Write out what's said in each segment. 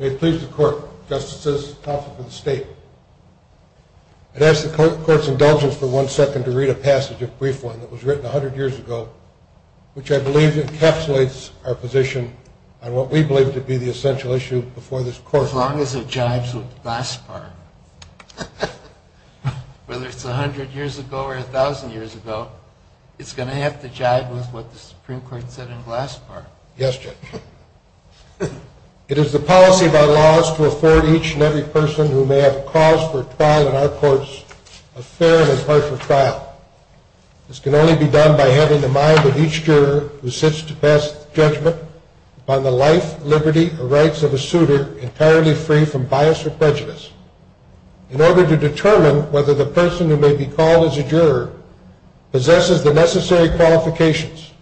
May it please the court, justices, counsel, and the state. I'd ask the court's indulgence for one second to read a passage, a brief one, that was written a hundred years ago, which I believe encapsulates our position on what we believe to be the essential issue before this court. As long as it jives with Glasspar. Whether it's a hundred years ago or a thousand years ago, it's going to have to jive with what the Supreme Court said in Glasspar. Yes, Judge. It is the policy of our laws to afford each and every person who may have cause for trial in our courts a fair and impartial trial. This can only be done by having the mind of each juror who sits to pass judgment upon the life, liberty, or rights of a suitor entirely free from bias or prejudice. In order to determine whether the person who may be called as a juror possesses the necessary qualifications,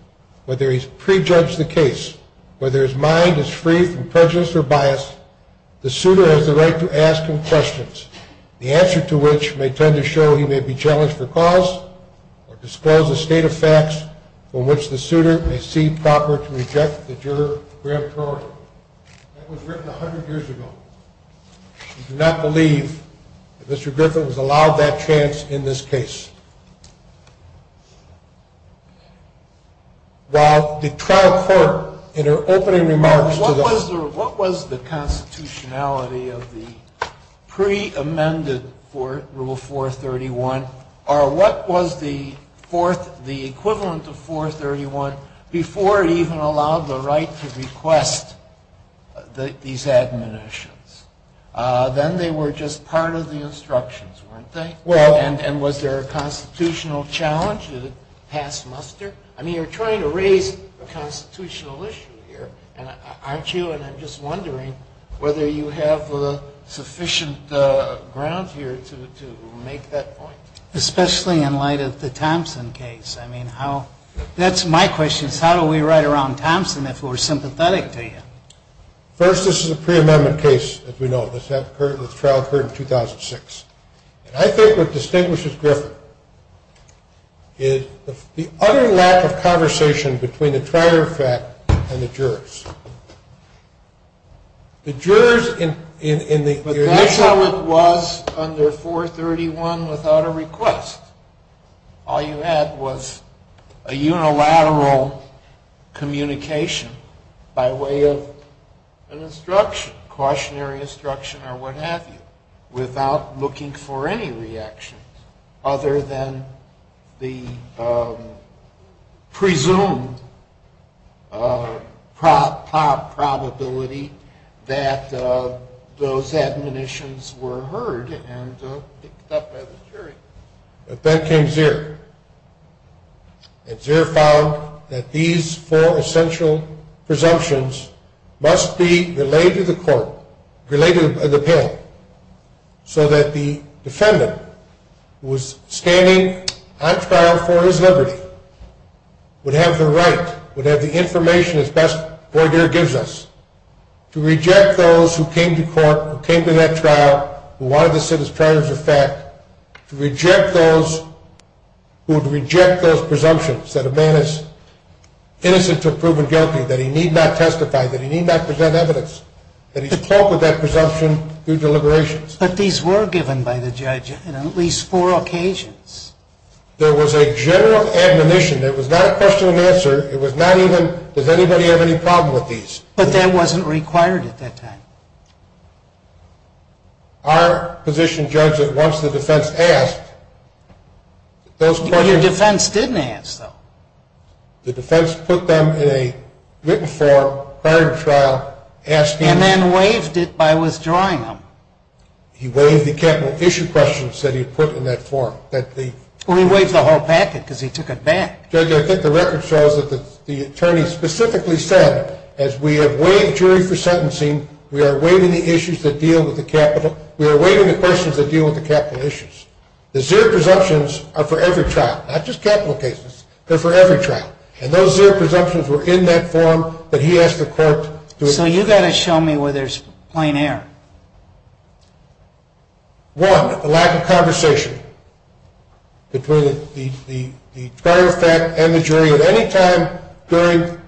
whether he's prejudged the case, whether his mind is free from prejudice or bias, the suitor has the right to ask him questions, the answer to which may tend to show he may be challenged for cause or disclose a state of facts from which the suitor may see proper to reject the juror's gravitory. That was written a hundred years ago. I do not believe that Mr. Griffin was allowed that chance in this case. What was the constitutionality of the pre-amended Rule 431, or what was the equivalent of 431 before it even allowed the right to request these admonitions? Then they were just part of the instructions, weren't they? And was there a constitutional challenge that passed muster? I mean, you're trying to raise a constitutional issue here, aren't you? And I'm just wondering whether you have sufficient ground here to make that point. Especially in light of the Thompson case. That's my question. How do we write around Thompson if we're sympathetic to him? First, this is a pre-amendment case, as we know. This trial occurred in 2006. And I think what distinguishes Griffin is the utter lack of conversation between the trier effect and the jurors. But that's how it was under 431 without a request. All you had was a unilateral communication by way of an instruction, cautionary instruction or what have you, without looking for any reaction other than the presumed prop. probability that those admonitions were heard and picked up by the jury. To reject those who came to court, who came to that trial, who wanted to sit as triers of fact, to reject those who would reject those presumptions that a man is innocent until proven guilty, that he need not testify, that he need not present evidence, that he's caught with that presumption through deliberations. But these were given by the judge on at least four occasions. There was a general admonition. There was not a question and answer. It was not even, does anybody have any problem with these? But that wasn't required at that time. Our position judged that once the defense asked, those questions... But your defense didn't ask, though. The defense put them in a written form prior to the trial asking... And then waived it by withdrawing them. He waived the capital issue questions that he put in that form. Well, he waived the whole packet because he took it back. Judge, I think the record shows that the attorney specifically said, as we have waived jury for sentencing, we are waiving the issues that deal with the capital. We are waiving the questions that deal with the capital issues. The zero presumptions are for every trial, not just capital cases, but for every trial. And those zero presumptions were in that form that he asked the court to... So you've got to show me where there's plain error. One, the lack of conversation between the prior effect and the jury at any time during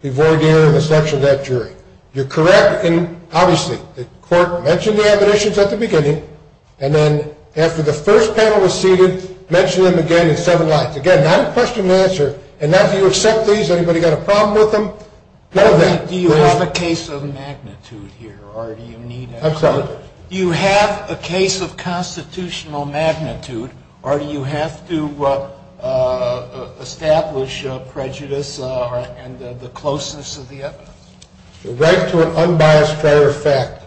the voir dire and the selection of that jury. You're correct in, obviously, the court mentioned the admonitions at the beginning. And then after the first panel was seated, mentioned them again in seven lines. Again, not a question and answer. And now, do you accept these? Anybody got a problem with them? Do you have a case of magnitude here, or do you need... I'm sorry? Do you have a case of constitutional magnitude, or do you have to establish prejudice and the closeness of the evidence? The right to an unbiased prior effect is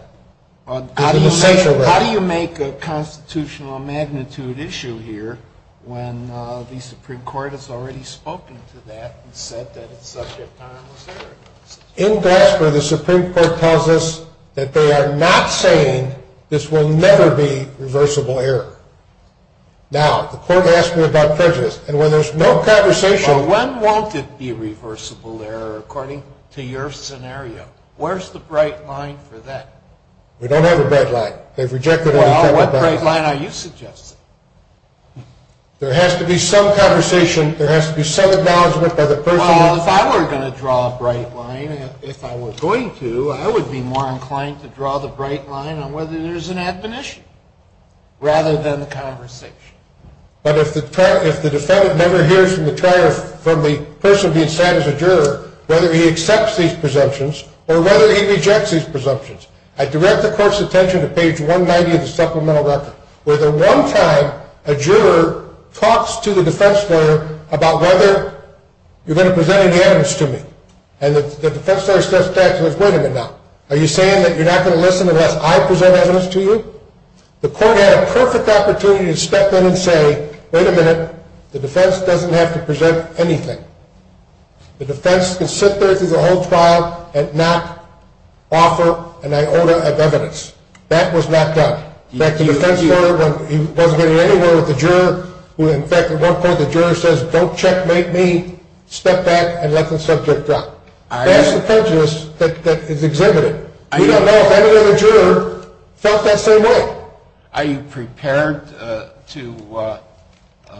an essential right. How do you make a constitutional magnitude issue here when the Supreme Court has already spoken to that and said that it's subject to irreversible error? In Glasper, the Supreme Court tells us that they are not saying this will never be reversible error. Now, the court asked me about prejudice, and when there's no conversation... But when won't it be reversible error, according to your scenario? Where's the bright line for that? We don't have a bright line. They've rejected... Well, what bright line are you suggesting? There has to be some conversation. There has to be some acknowledgement by the person... Well, if I were going to draw a bright line, if I were going to, I would be more inclined to draw the bright line on whether there's an admonition rather than the conversation. But if the defendant never hears from the person being sat as a juror whether he accepts these presumptions or whether he rejects these presumptions, I direct the court's attention to page 190 of the supplemental record, where the one time a juror talks to the defense lawyer about whether you're going to present any evidence to me. And the defense lawyer steps back and says, wait a minute now. Are you saying that you're not going to listen unless I present evidence to you? The court had a perfect opportunity to step in and say, wait a minute, the defense doesn't have to present anything. The defense can sit there through the whole trial and not offer an iota of evidence. That was not done. In fact, the defense lawyer, when he wasn't getting anywhere with the juror, who in fact at one point the juror says, don't checkmate me, step back and let the subject drop. That's the prejudice that is exhibited. We don't know if any other juror felt that same way. Are you prepared to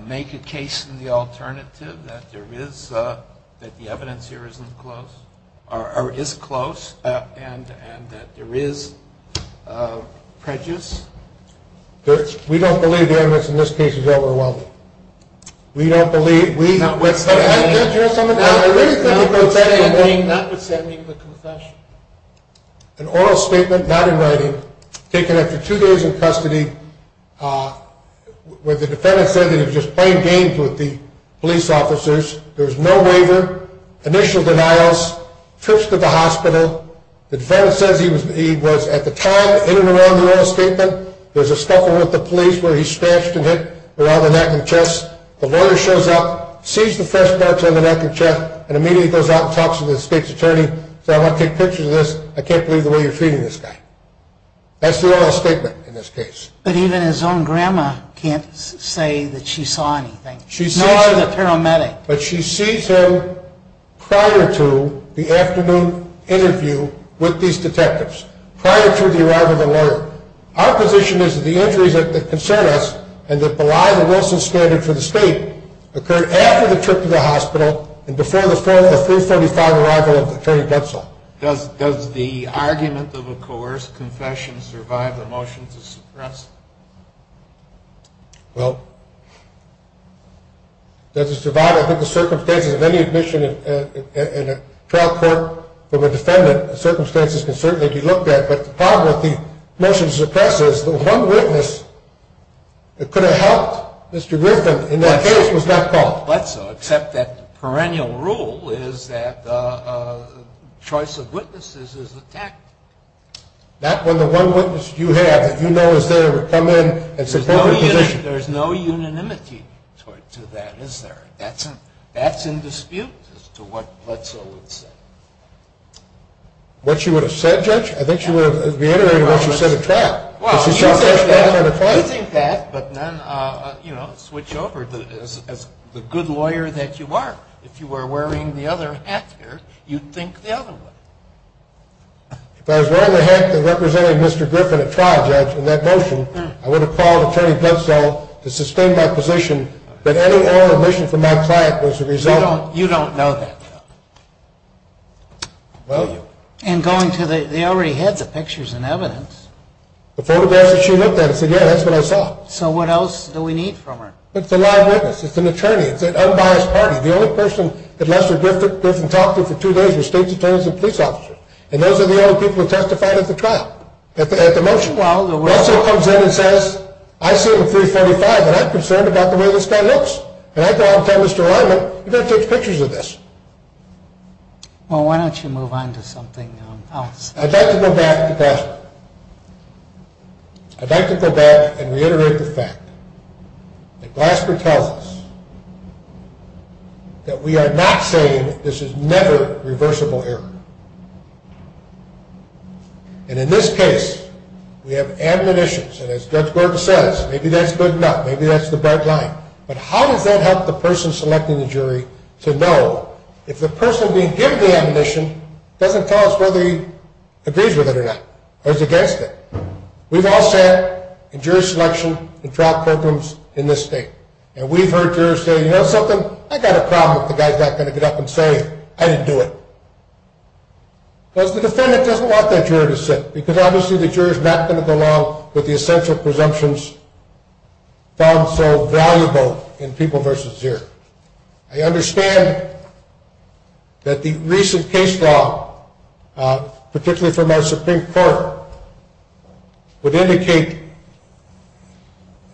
make a case in the alternative that the evidence here is close and that there is prejudice? We don't believe the evidence in this case is overwhelming. We don't believe. Notwithstanding the confession. An oral statement, not in writing, taken after two days in custody, where the defendant said that he was just playing games with the police officers. There was no waiver, initial denials, trips to the hospital. The defendant says he was at the time in and around the oral statement. There's a scuffle with the police where he's stashed and hit around the neck and chest. The lawyer shows up, sees the fresh parts on the neck and chest, and immediately goes out and talks to the state's attorney. He says, I want to take pictures of this. I can't believe the way you're treating this guy. That's the oral statement in this case. But even his own grandma can't say that she saw anything, nor the paramedic. But she sees him prior to the afternoon interview with these detectives, prior to the arrival of the lawyer. Our position is that the injuries that concern us and that belie the Wilson standard for the state occurred after the trip to the hospital and before the 4th or 345 arrival of Attorney Bensel. Does the argument of a coerced confession survive the motion to suppress? Well, does it survive? I think the circumstances of any admission in a trial court from a defendant, the circumstances can certainly be looked at. But the problem with the motion to suppress is that one witness could have helped Mr. Griffin in that case. This was not called Bledsoe, except that the perennial rule is that choice of witnesses is attacked. Not when the one witness you have that you know is there would come in and support your position. There's no unanimity to that, is there? That's in dispute as to what Bledsoe would say. What she would have said, Judge? I think she would have reiterated what she said at trial. Well, you think that, but then, you know, switch over as the good lawyer that you are. If you were wearing the other hat there, you'd think the other way. If I was wearing the hat that represented Mr. Griffin at trial, Judge, in that motion, I would have called Attorney Bledsoe to sustain my position that any oral admission from my client was a result. You don't know that, though. And going to the – they already had the pictures and evidence. The photographs that she looked at, I said, yeah, that's what I saw. So what else do we need from her? It's a live witness. It's an attorney. It's an unbiased party. The only person that Lester Griffin talked to for two days was State's Attorney's and police officer. And those are the only people who testified at the trial, at the motion. Bledsoe comes in and says, I see him at 345, and I'm concerned about the way this guy looks. And I go out and tell Mr. Allignment, you've got to take pictures of this. Well, why don't you move on to something else? I'd like to go back to Glasper. I'd like to go back and reiterate the fact that Glasper tells us that we are not saying this is never reversible error. And in this case, we have ammunitions, and as Judge Gordon says, maybe that's good enough, maybe that's the bright line. But how does that help the person selecting the jury to know if the person being given the ammunition doesn't tell us whether he agrees with it or not, or is against it? We've all sat in jury selection in trial programs in this state, and we've heard jurors say, you know something? I've got a problem with the guy who's not going to get up and say, I didn't do it. Because the defendant doesn't want that juror to sit, because obviously the juror's not going to go along with the essential presumptions found so valuable in people versus zero. I understand that the recent case law, particularly from our Supreme Court, would indicate,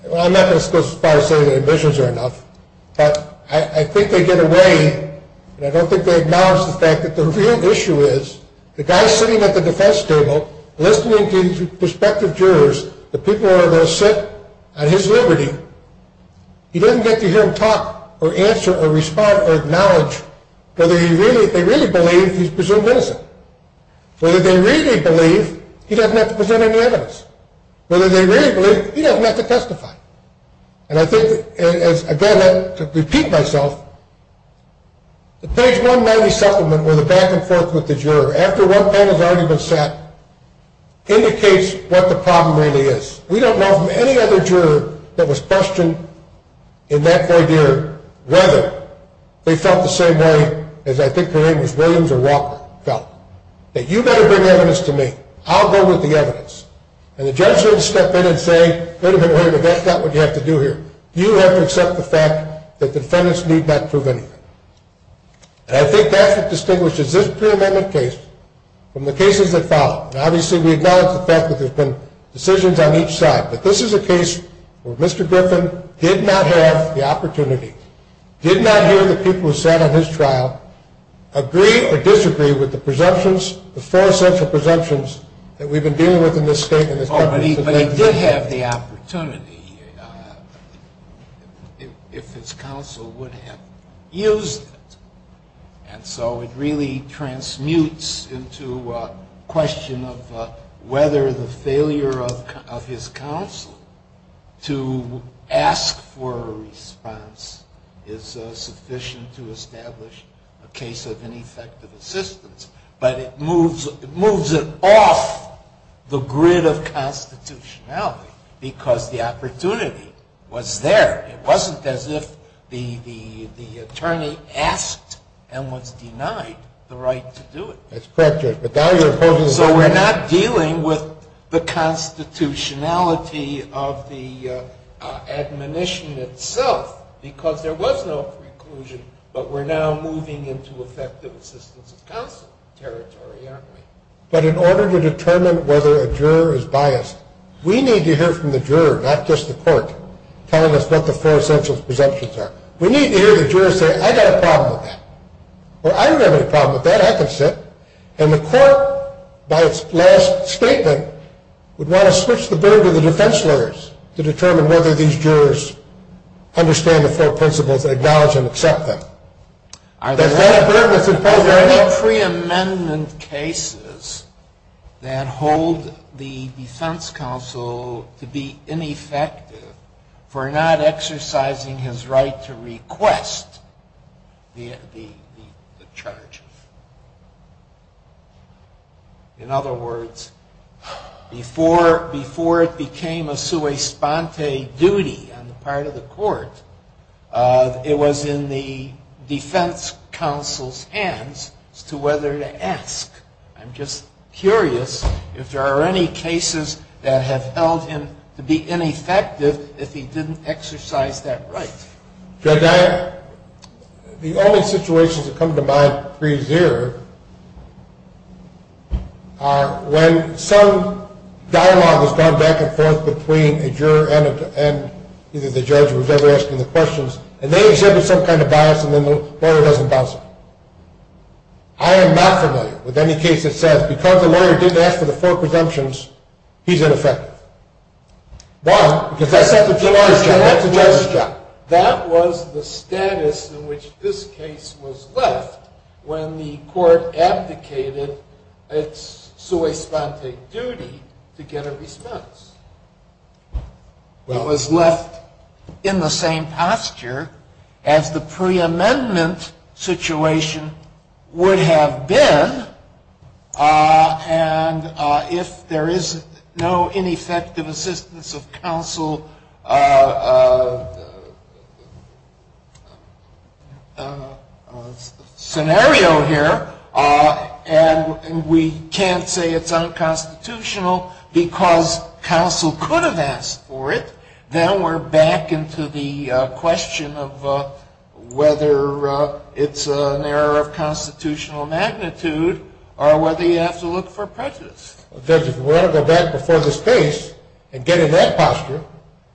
well, I'm not going to go so far as to say that ammunitions are enough, but I think they get away, and I don't think they acknowledge the fact that the real issue is the guy sitting at the defense table, listening to prospective jurors, the people who are going to sit at his liberty, he doesn't get to hear him talk or answer or respond or acknowledge whether they really believe he's presumed innocent. Whether they really believe, he doesn't have to present any evidence. Whether they really believe, he doesn't have to testify. And I think, again, I repeat myself, the page 190 supplement with the back and forth with the juror, after one panel's argument's set, indicates what the problem really is. We don't know from any other juror that was questioned in that voideer whether they felt the same way as I think her name was Williams or Walker felt, that you better bring evidence to me. I'll go with the evidence. And the judge wouldn't step in and say, wait a minute, wait a minute, that's not what you have to do here. You have to accept the fact that defendants need not prove anything. And I think that's what distinguishes this pre-amendment case from the cases that follow. Now, obviously, we acknowledge the fact that there's been decisions on each side, but this is a case where Mr. Griffin did not have the opportunity, did not hear the people who sat on his trial agree or disagree with the presumptions, the four essential presumptions that we've been dealing with in this state and this country. But he did have the opportunity if his counsel would have used it. And so it really transmutes into a question of whether the failure of his counsel to ask for a response is sufficient to establish a case of ineffective assistance. But it moves it off the grid of constitutionality because the opportunity was there. It wasn't as if the attorney asked and was denied the right to do it. That's correct, Judge. So we're not dealing with the constitutionality of the admonition itself because there was no preclusion, but we're now moving into effective assistance of counsel territory, aren't we? But in order to determine whether a juror is biased, we need to hear from the juror, not just the court, telling us what the four essential presumptions are. We need to hear the juror say, I've got a problem with that. Or I don't have any problem with that. I can sit. And the court, by its last statement, would want to switch the burden to the defense lawyers to determine whether these jurors understand the four principles, acknowledge them, accept them. Are there any pre-amendment cases that hold the defense counsel to be ineffective for not exercising his right to request the charges? In other words, before it became a sui sponte duty on the part of the court, it was in the defense counsel's hands as to whether to ask. I'm just curious if there are any cases that have held him to be ineffective if he didn't exercise that right. Judge, the only situations that come to mind pre-zero are when some dialogue has gone back and forth between a juror and either the judge who was ever asking the questions, and they exhibit some kind of bias and then the lawyer doesn't bounce it. I am not familiar with any case that says because the lawyer didn't ask for the four presumptions, he's ineffective. Why? That was the status in which this case was left when the court abdicated its sui sponte duty to get a response. It was left in the same posture as the pre-amendment situation would have been, and if there is no ineffective assistance of counsel scenario here, and we can't say it's unconstitutional because counsel could have asked for it, then we're back into the question of whether it's an error of constitutional magnitude or whether you have to look for prejudice. Judge, if we want to go back before this case and get in that posture,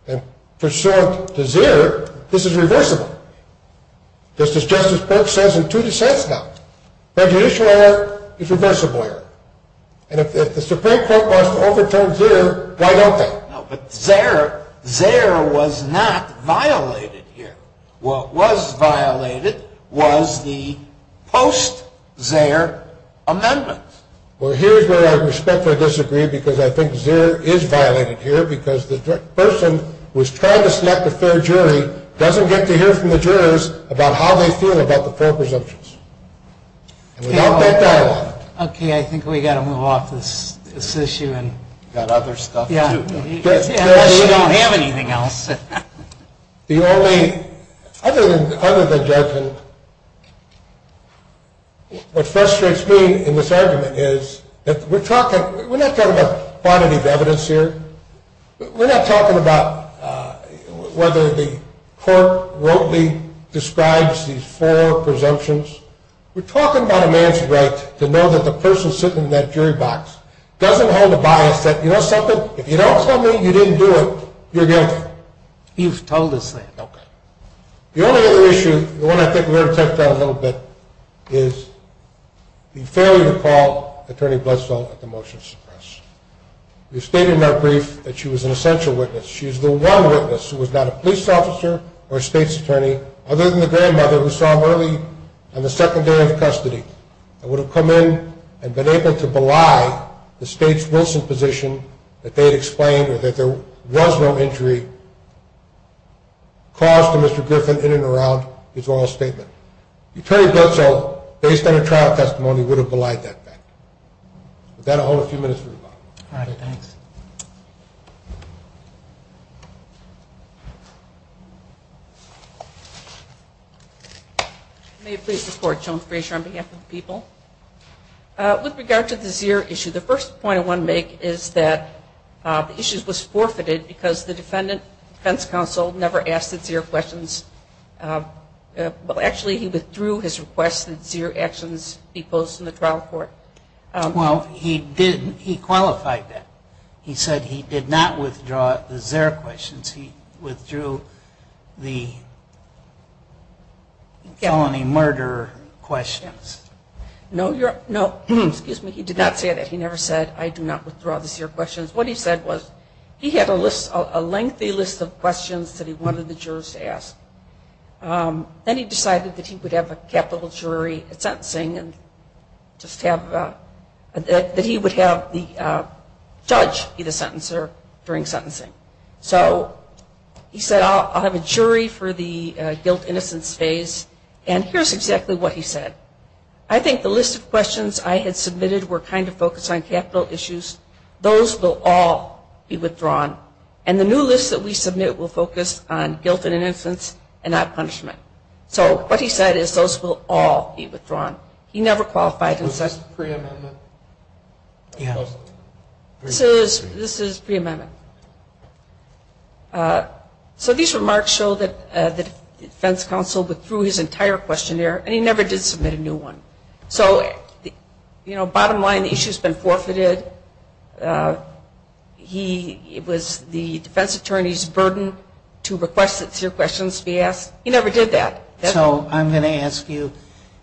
and for sure to zero, this is reversible. Just as Justice Perks says in two dissents now. Prejudicial error is reversible error. And if the Supreme Court wants to overturn zero, why don't they? No, but zero was not violated here. What was violated was the post-zero amendment. Well, here's where I respectfully disagree because I think zero is violated here because the person who is trying to select a fair jury doesn't get to hear from the jurors about how they feel about the four presumptions. Okay, I think we've got to move off this issue. Unless you don't have anything else. Other than judgment, what frustrates me in this argument is that we're not talking about quantity of evidence here. We're not talking about whether the court willingly describes these four presumptions. We're talking about a man's right to know that the person sitting in that jury box doesn't hold a bias that, you know something, if you don't tell me you didn't do it, you're guilty. You've told us that. Okay. The only other issue, the one I think we ought to touch on a little bit, is the failure to call Attorney Bledsoe at the motion to suppress. We've stated in our brief that she was an essential witness. She is the one witness who was not a police officer or a state's attorney other than the grandmother who saw him early on the second day of custody and would have come in and been able to belie the state's Wilson position that they had explained or that there was no injury caused to Mr. Griffin in and around his oral statement. Attorney Bledsoe, based on her trial testimony, would have belied that fact. With that, I'll hold a few minutes for rebuttal. All right. Thanks. May I please report, Joan Frazier, on behalf of the people? With regard to the Zier issue, the first point I want to make is that the issue was forfeited because the defense counsel never asked the Zier questions. Well, actually he withdrew his request that Zier actions be posed in the trial court. Well, he qualified that. He said he did not withdraw the Zier questions. He withdrew the felony murder questions. No. Excuse me. He did not say that. He never said, I do not withdraw the Zier questions. What he said was he had a lengthy list of questions that he wanted the jurors to ask. Then he decided that he would have a capital jury sentencing and that he would have the judge be the sentencer during sentencing. So he said, I'll have a jury for the guilt-innocence phase. And here's exactly what he said. I think the list of questions I had submitted were kind of focused on capital issues. Those will all be withdrawn. And the new list that we submit will focus on guilt and innocence and not punishment. So what he said is those will all be withdrawn. He never qualified. This is pre-amendment? This is pre-amendment. So these remarks show that the defense counsel withdrew his entire questionnaire, and he never did submit a new one. So, you know, bottom line, the issue has been forfeited. It was the defense attorney's burden to request that Zier questions be asked. He never did that. So I'm going to ask you,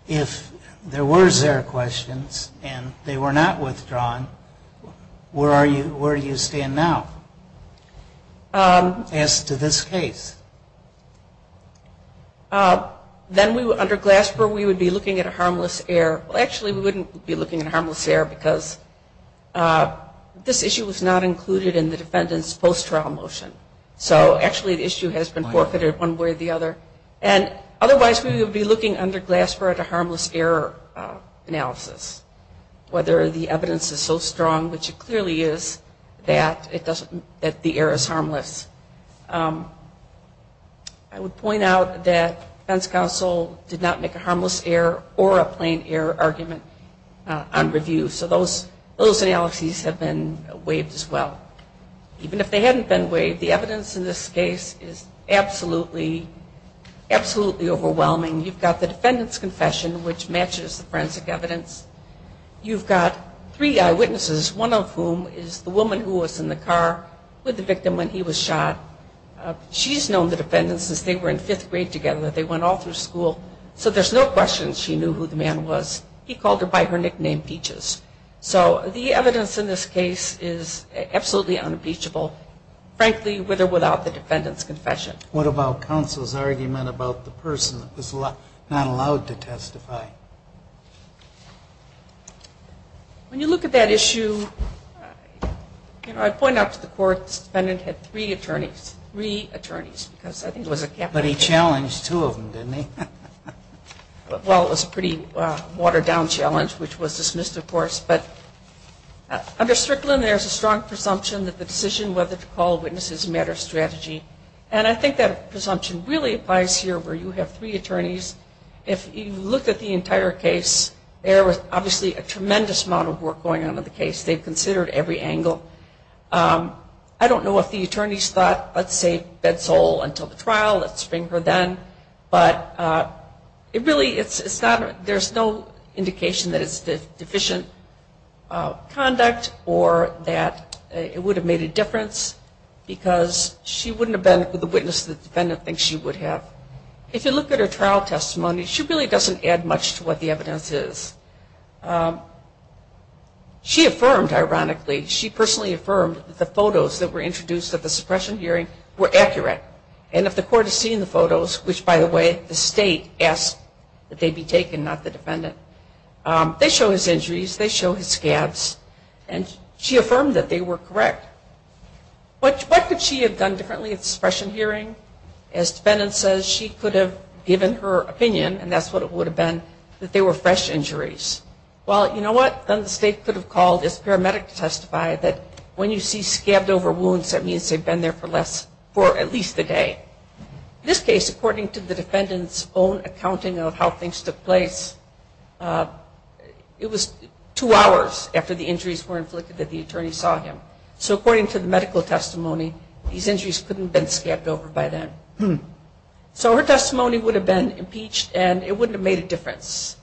if there were Zier questions and they were not withdrawn, where do you stand now as to this case? Then under Glasper, we would be looking at a harmless Zier. Well, actually, we wouldn't be looking at a harmless Zier because this issue was not included in the defendant's post-trial motion. So, actually, the issue has been forfeited one way or the other. And otherwise, we would be looking under Glasper at a harmless error analysis, whether the evidence is so strong, which it clearly is, that the error is harmless. I would point out that defense counsel did not make a harmless error or a plain error argument on review. So those analyses have been waived as well. Even if they hadn't been waived, the evidence in this case is absolutely overwhelming. You've got the defendant's confession, which matches the forensic evidence. You've got three eyewitnesses, one of whom is the woman who was in the car with the victim when he was shot. She's known the defendant since they were in fifth grade together. They went all through school. So there's no question she knew who the man was. He called her by her nickname Peaches. So the evidence in this case is absolutely unimpeachable, frankly, with or without the defendant's confession. What about counsel's argument about the person that was not allowed to testify? When you look at that issue, you know, I point out to the court, this defendant had three attorneys, three attorneys, because I think it was a capital issue. But he challenged two of them, didn't he? Well, it was a pretty watered-down challenge, which was dismissed, of course. But under Strickland, there's a strong presumption that the decision whether to call a witness is a matter of strategy. And I think that presumption really applies here where you have three attorneys. If you look at the entire case, there was obviously a tremendous amount of work going on in the case. They've considered every angle. I don't know if the attorneys thought, let's say, bed soul until the trial, let's bring her then. But it really, it's not, there's no indication that it's deficient conduct or that it would have made a difference because she wouldn't have been the witness the defendant thinks she would have. If you look at her trial testimony, she really doesn't add much to what the evidence is. She affirmed, ironically, she personally affirmed that the photos that were introduced at the suppression hearing were accurate. And if the court has seen the photos, which, by the way, the state asked that they be taken, not the defendant, they show his injuries, they show his scabs, and she affirmed that they were correct. What could she have done differently at the suppression hearing? As the defendant says, she could have given her opinion, and that's what it would have been, that they were fresh injuries. Well, you know what? Then the state could have called its paramedic to testify that when you see scabbed over wounds, that means they've been there for at least a day. In this case, according to the defendant's own accounting of how things took place, it was two hours after the injuries were inflicted that the attorney saw him. So according to the medical testimony, these injuries couldn't have been scabbed over by then. So her testimony would have been impeached, and it wouldn't have made a difference.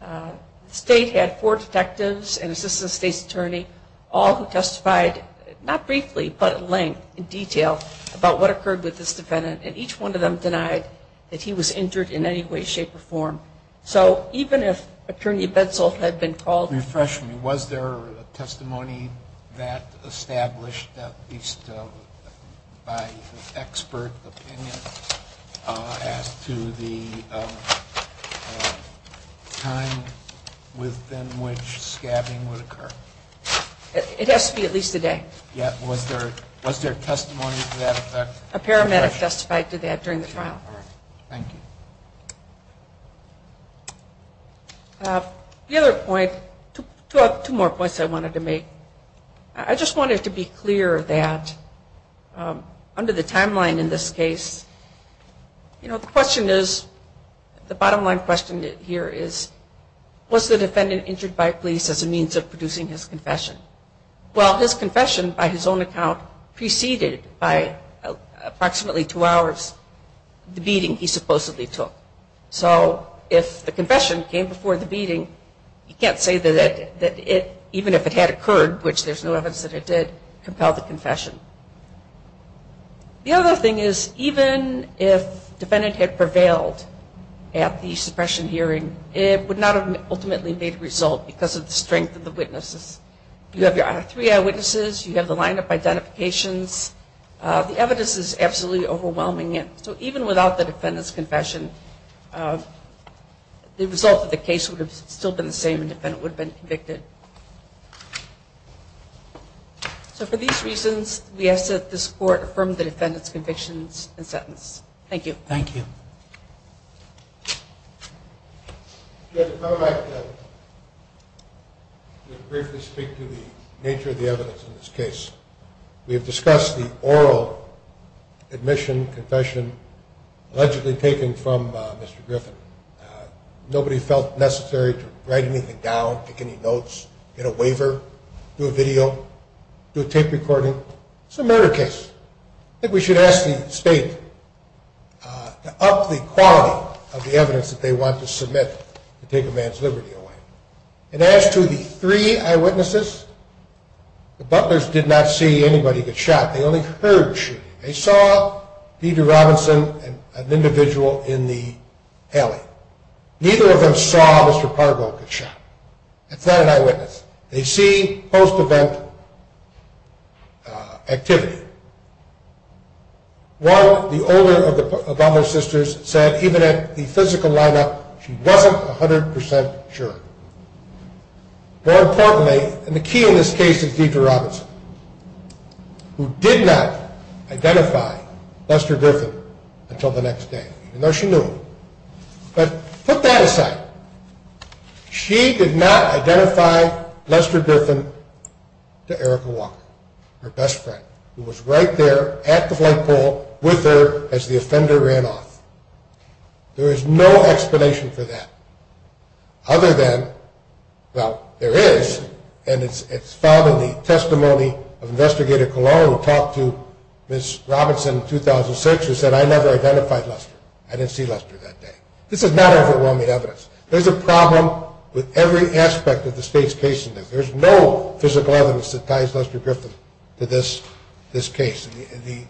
The state had four detectives and an assistant state's attorney, all who testified, not briefly, but in length and detail about what occurred with this defendant, and each one of them denied that he was injured in any way, shape, or form. So even if Attorney Betzel had been called. Refresh me. Was there testimony that established, at least by expert opinion, as to the time within which scabbing would occur? It has to be at least a day. Yeah. Was there testimony to that effect? A paramedic testified to that during the trial. All right. Thank you. The other point, two more points I wanted to make. I just wanted to be clear that under the timeline in this case, you know, the question is, the bottom line question here is, was the defendant injured by police as a means of producing his confession? Well, his confession, by his own account, preceded by approximately two hours the beating he supposedly took. So if the confession came before the beating, you can't say that even if it had occurred, which there's no evidence that it did, compel the confession. The other thing is, even if the defendant had prevailed at the suppression hearing, it would not have ultimately made a result because of the strength of the witnesses. You have your three eyewitnesses. You have the line-up identifications. The evidence is absolutely overwhelming. So even without the defendant's confession, the result of the case would have still been the same and the defendant would have been convicted. So for these reasons, we ask that this Court affirm the defendant's convictions and sentence. Thank you. Thank you. I'd like to briefly speak to the nature of the evidence in this case. We have discussed the oral admission, confession allegedly taken from Mr. Griffin. Nobody felt necessary to write anything down, take any notes, get a waiver, do a video, do a tape recording. It's a murder case. I think we should ask the State to up the quality of the evidence that they want to submit to take a man's liberty away. And as to the three eyewitnesses, the Butlers did not see anybody get shot. They only heard shooting. They saw Peter Robinson, an individual in the alley. Neither of them saw Mr. Pargo get shot. It's not an eyewitness. They see post-event activity. One, the older of the Butlers' sisters, said even at the physical lineup, she wasn't 100% sure. More importantly, and the key in this case is Peter Robinson, who did not identify Lester Griffin until the next day, even though she knew him. But put that aside. She did not identify Lester Griffin to Erica Walker, her best friend, who was right there at the flight pool with her as the offender ran off. There is no explanation for that other than, well, there is, and it's found in the testimony of Investigator Colon who talked to Ms. Robinson in 2006 who said, I never identified Lester. I didn't see Lester that day. This is not overwhelming evidence. There's a problem with every aspect of the state's case in this. There's no physical evidence that ties Lester Griffin to this case. The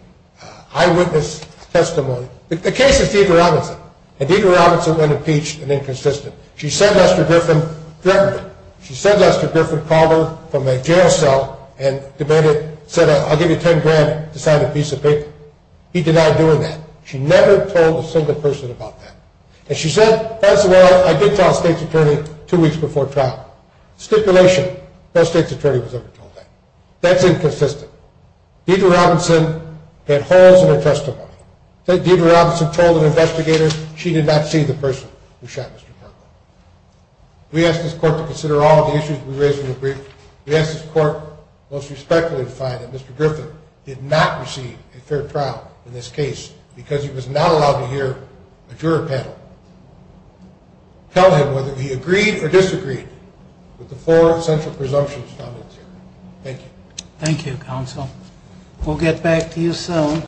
eyewitness testimony, the case is Peter Robinson, and Peter Robinson went impeached and inconsistent. She said Lester Griffin threatened her. She said Lester Griffin called her from a jail cell and demanded, said, I'll give you $10,000 to sign a piece of paper. He denied doing that. She never told a single person about that. And she said, first of all, I did tell a state's attorney two weeks before trial. Stipulation. No state's attorney was ever told that. That's inconsistent. Peter Robinson had holes in her testimony. Peter Robinson told an investigator she did not see the person who shot Mr. Griffin. We asked this court to consider all of the issues we raised in the brief. We asked this court most respectfully to find that Mr. Griffin did not receive a fair trial in this case because he was not allowed to hear a juror panel. Tell him whether he agreed or disagreed with the four essential presumptions found in this hearing. Thank you. Thank you, counsel. We'll get back to you soon.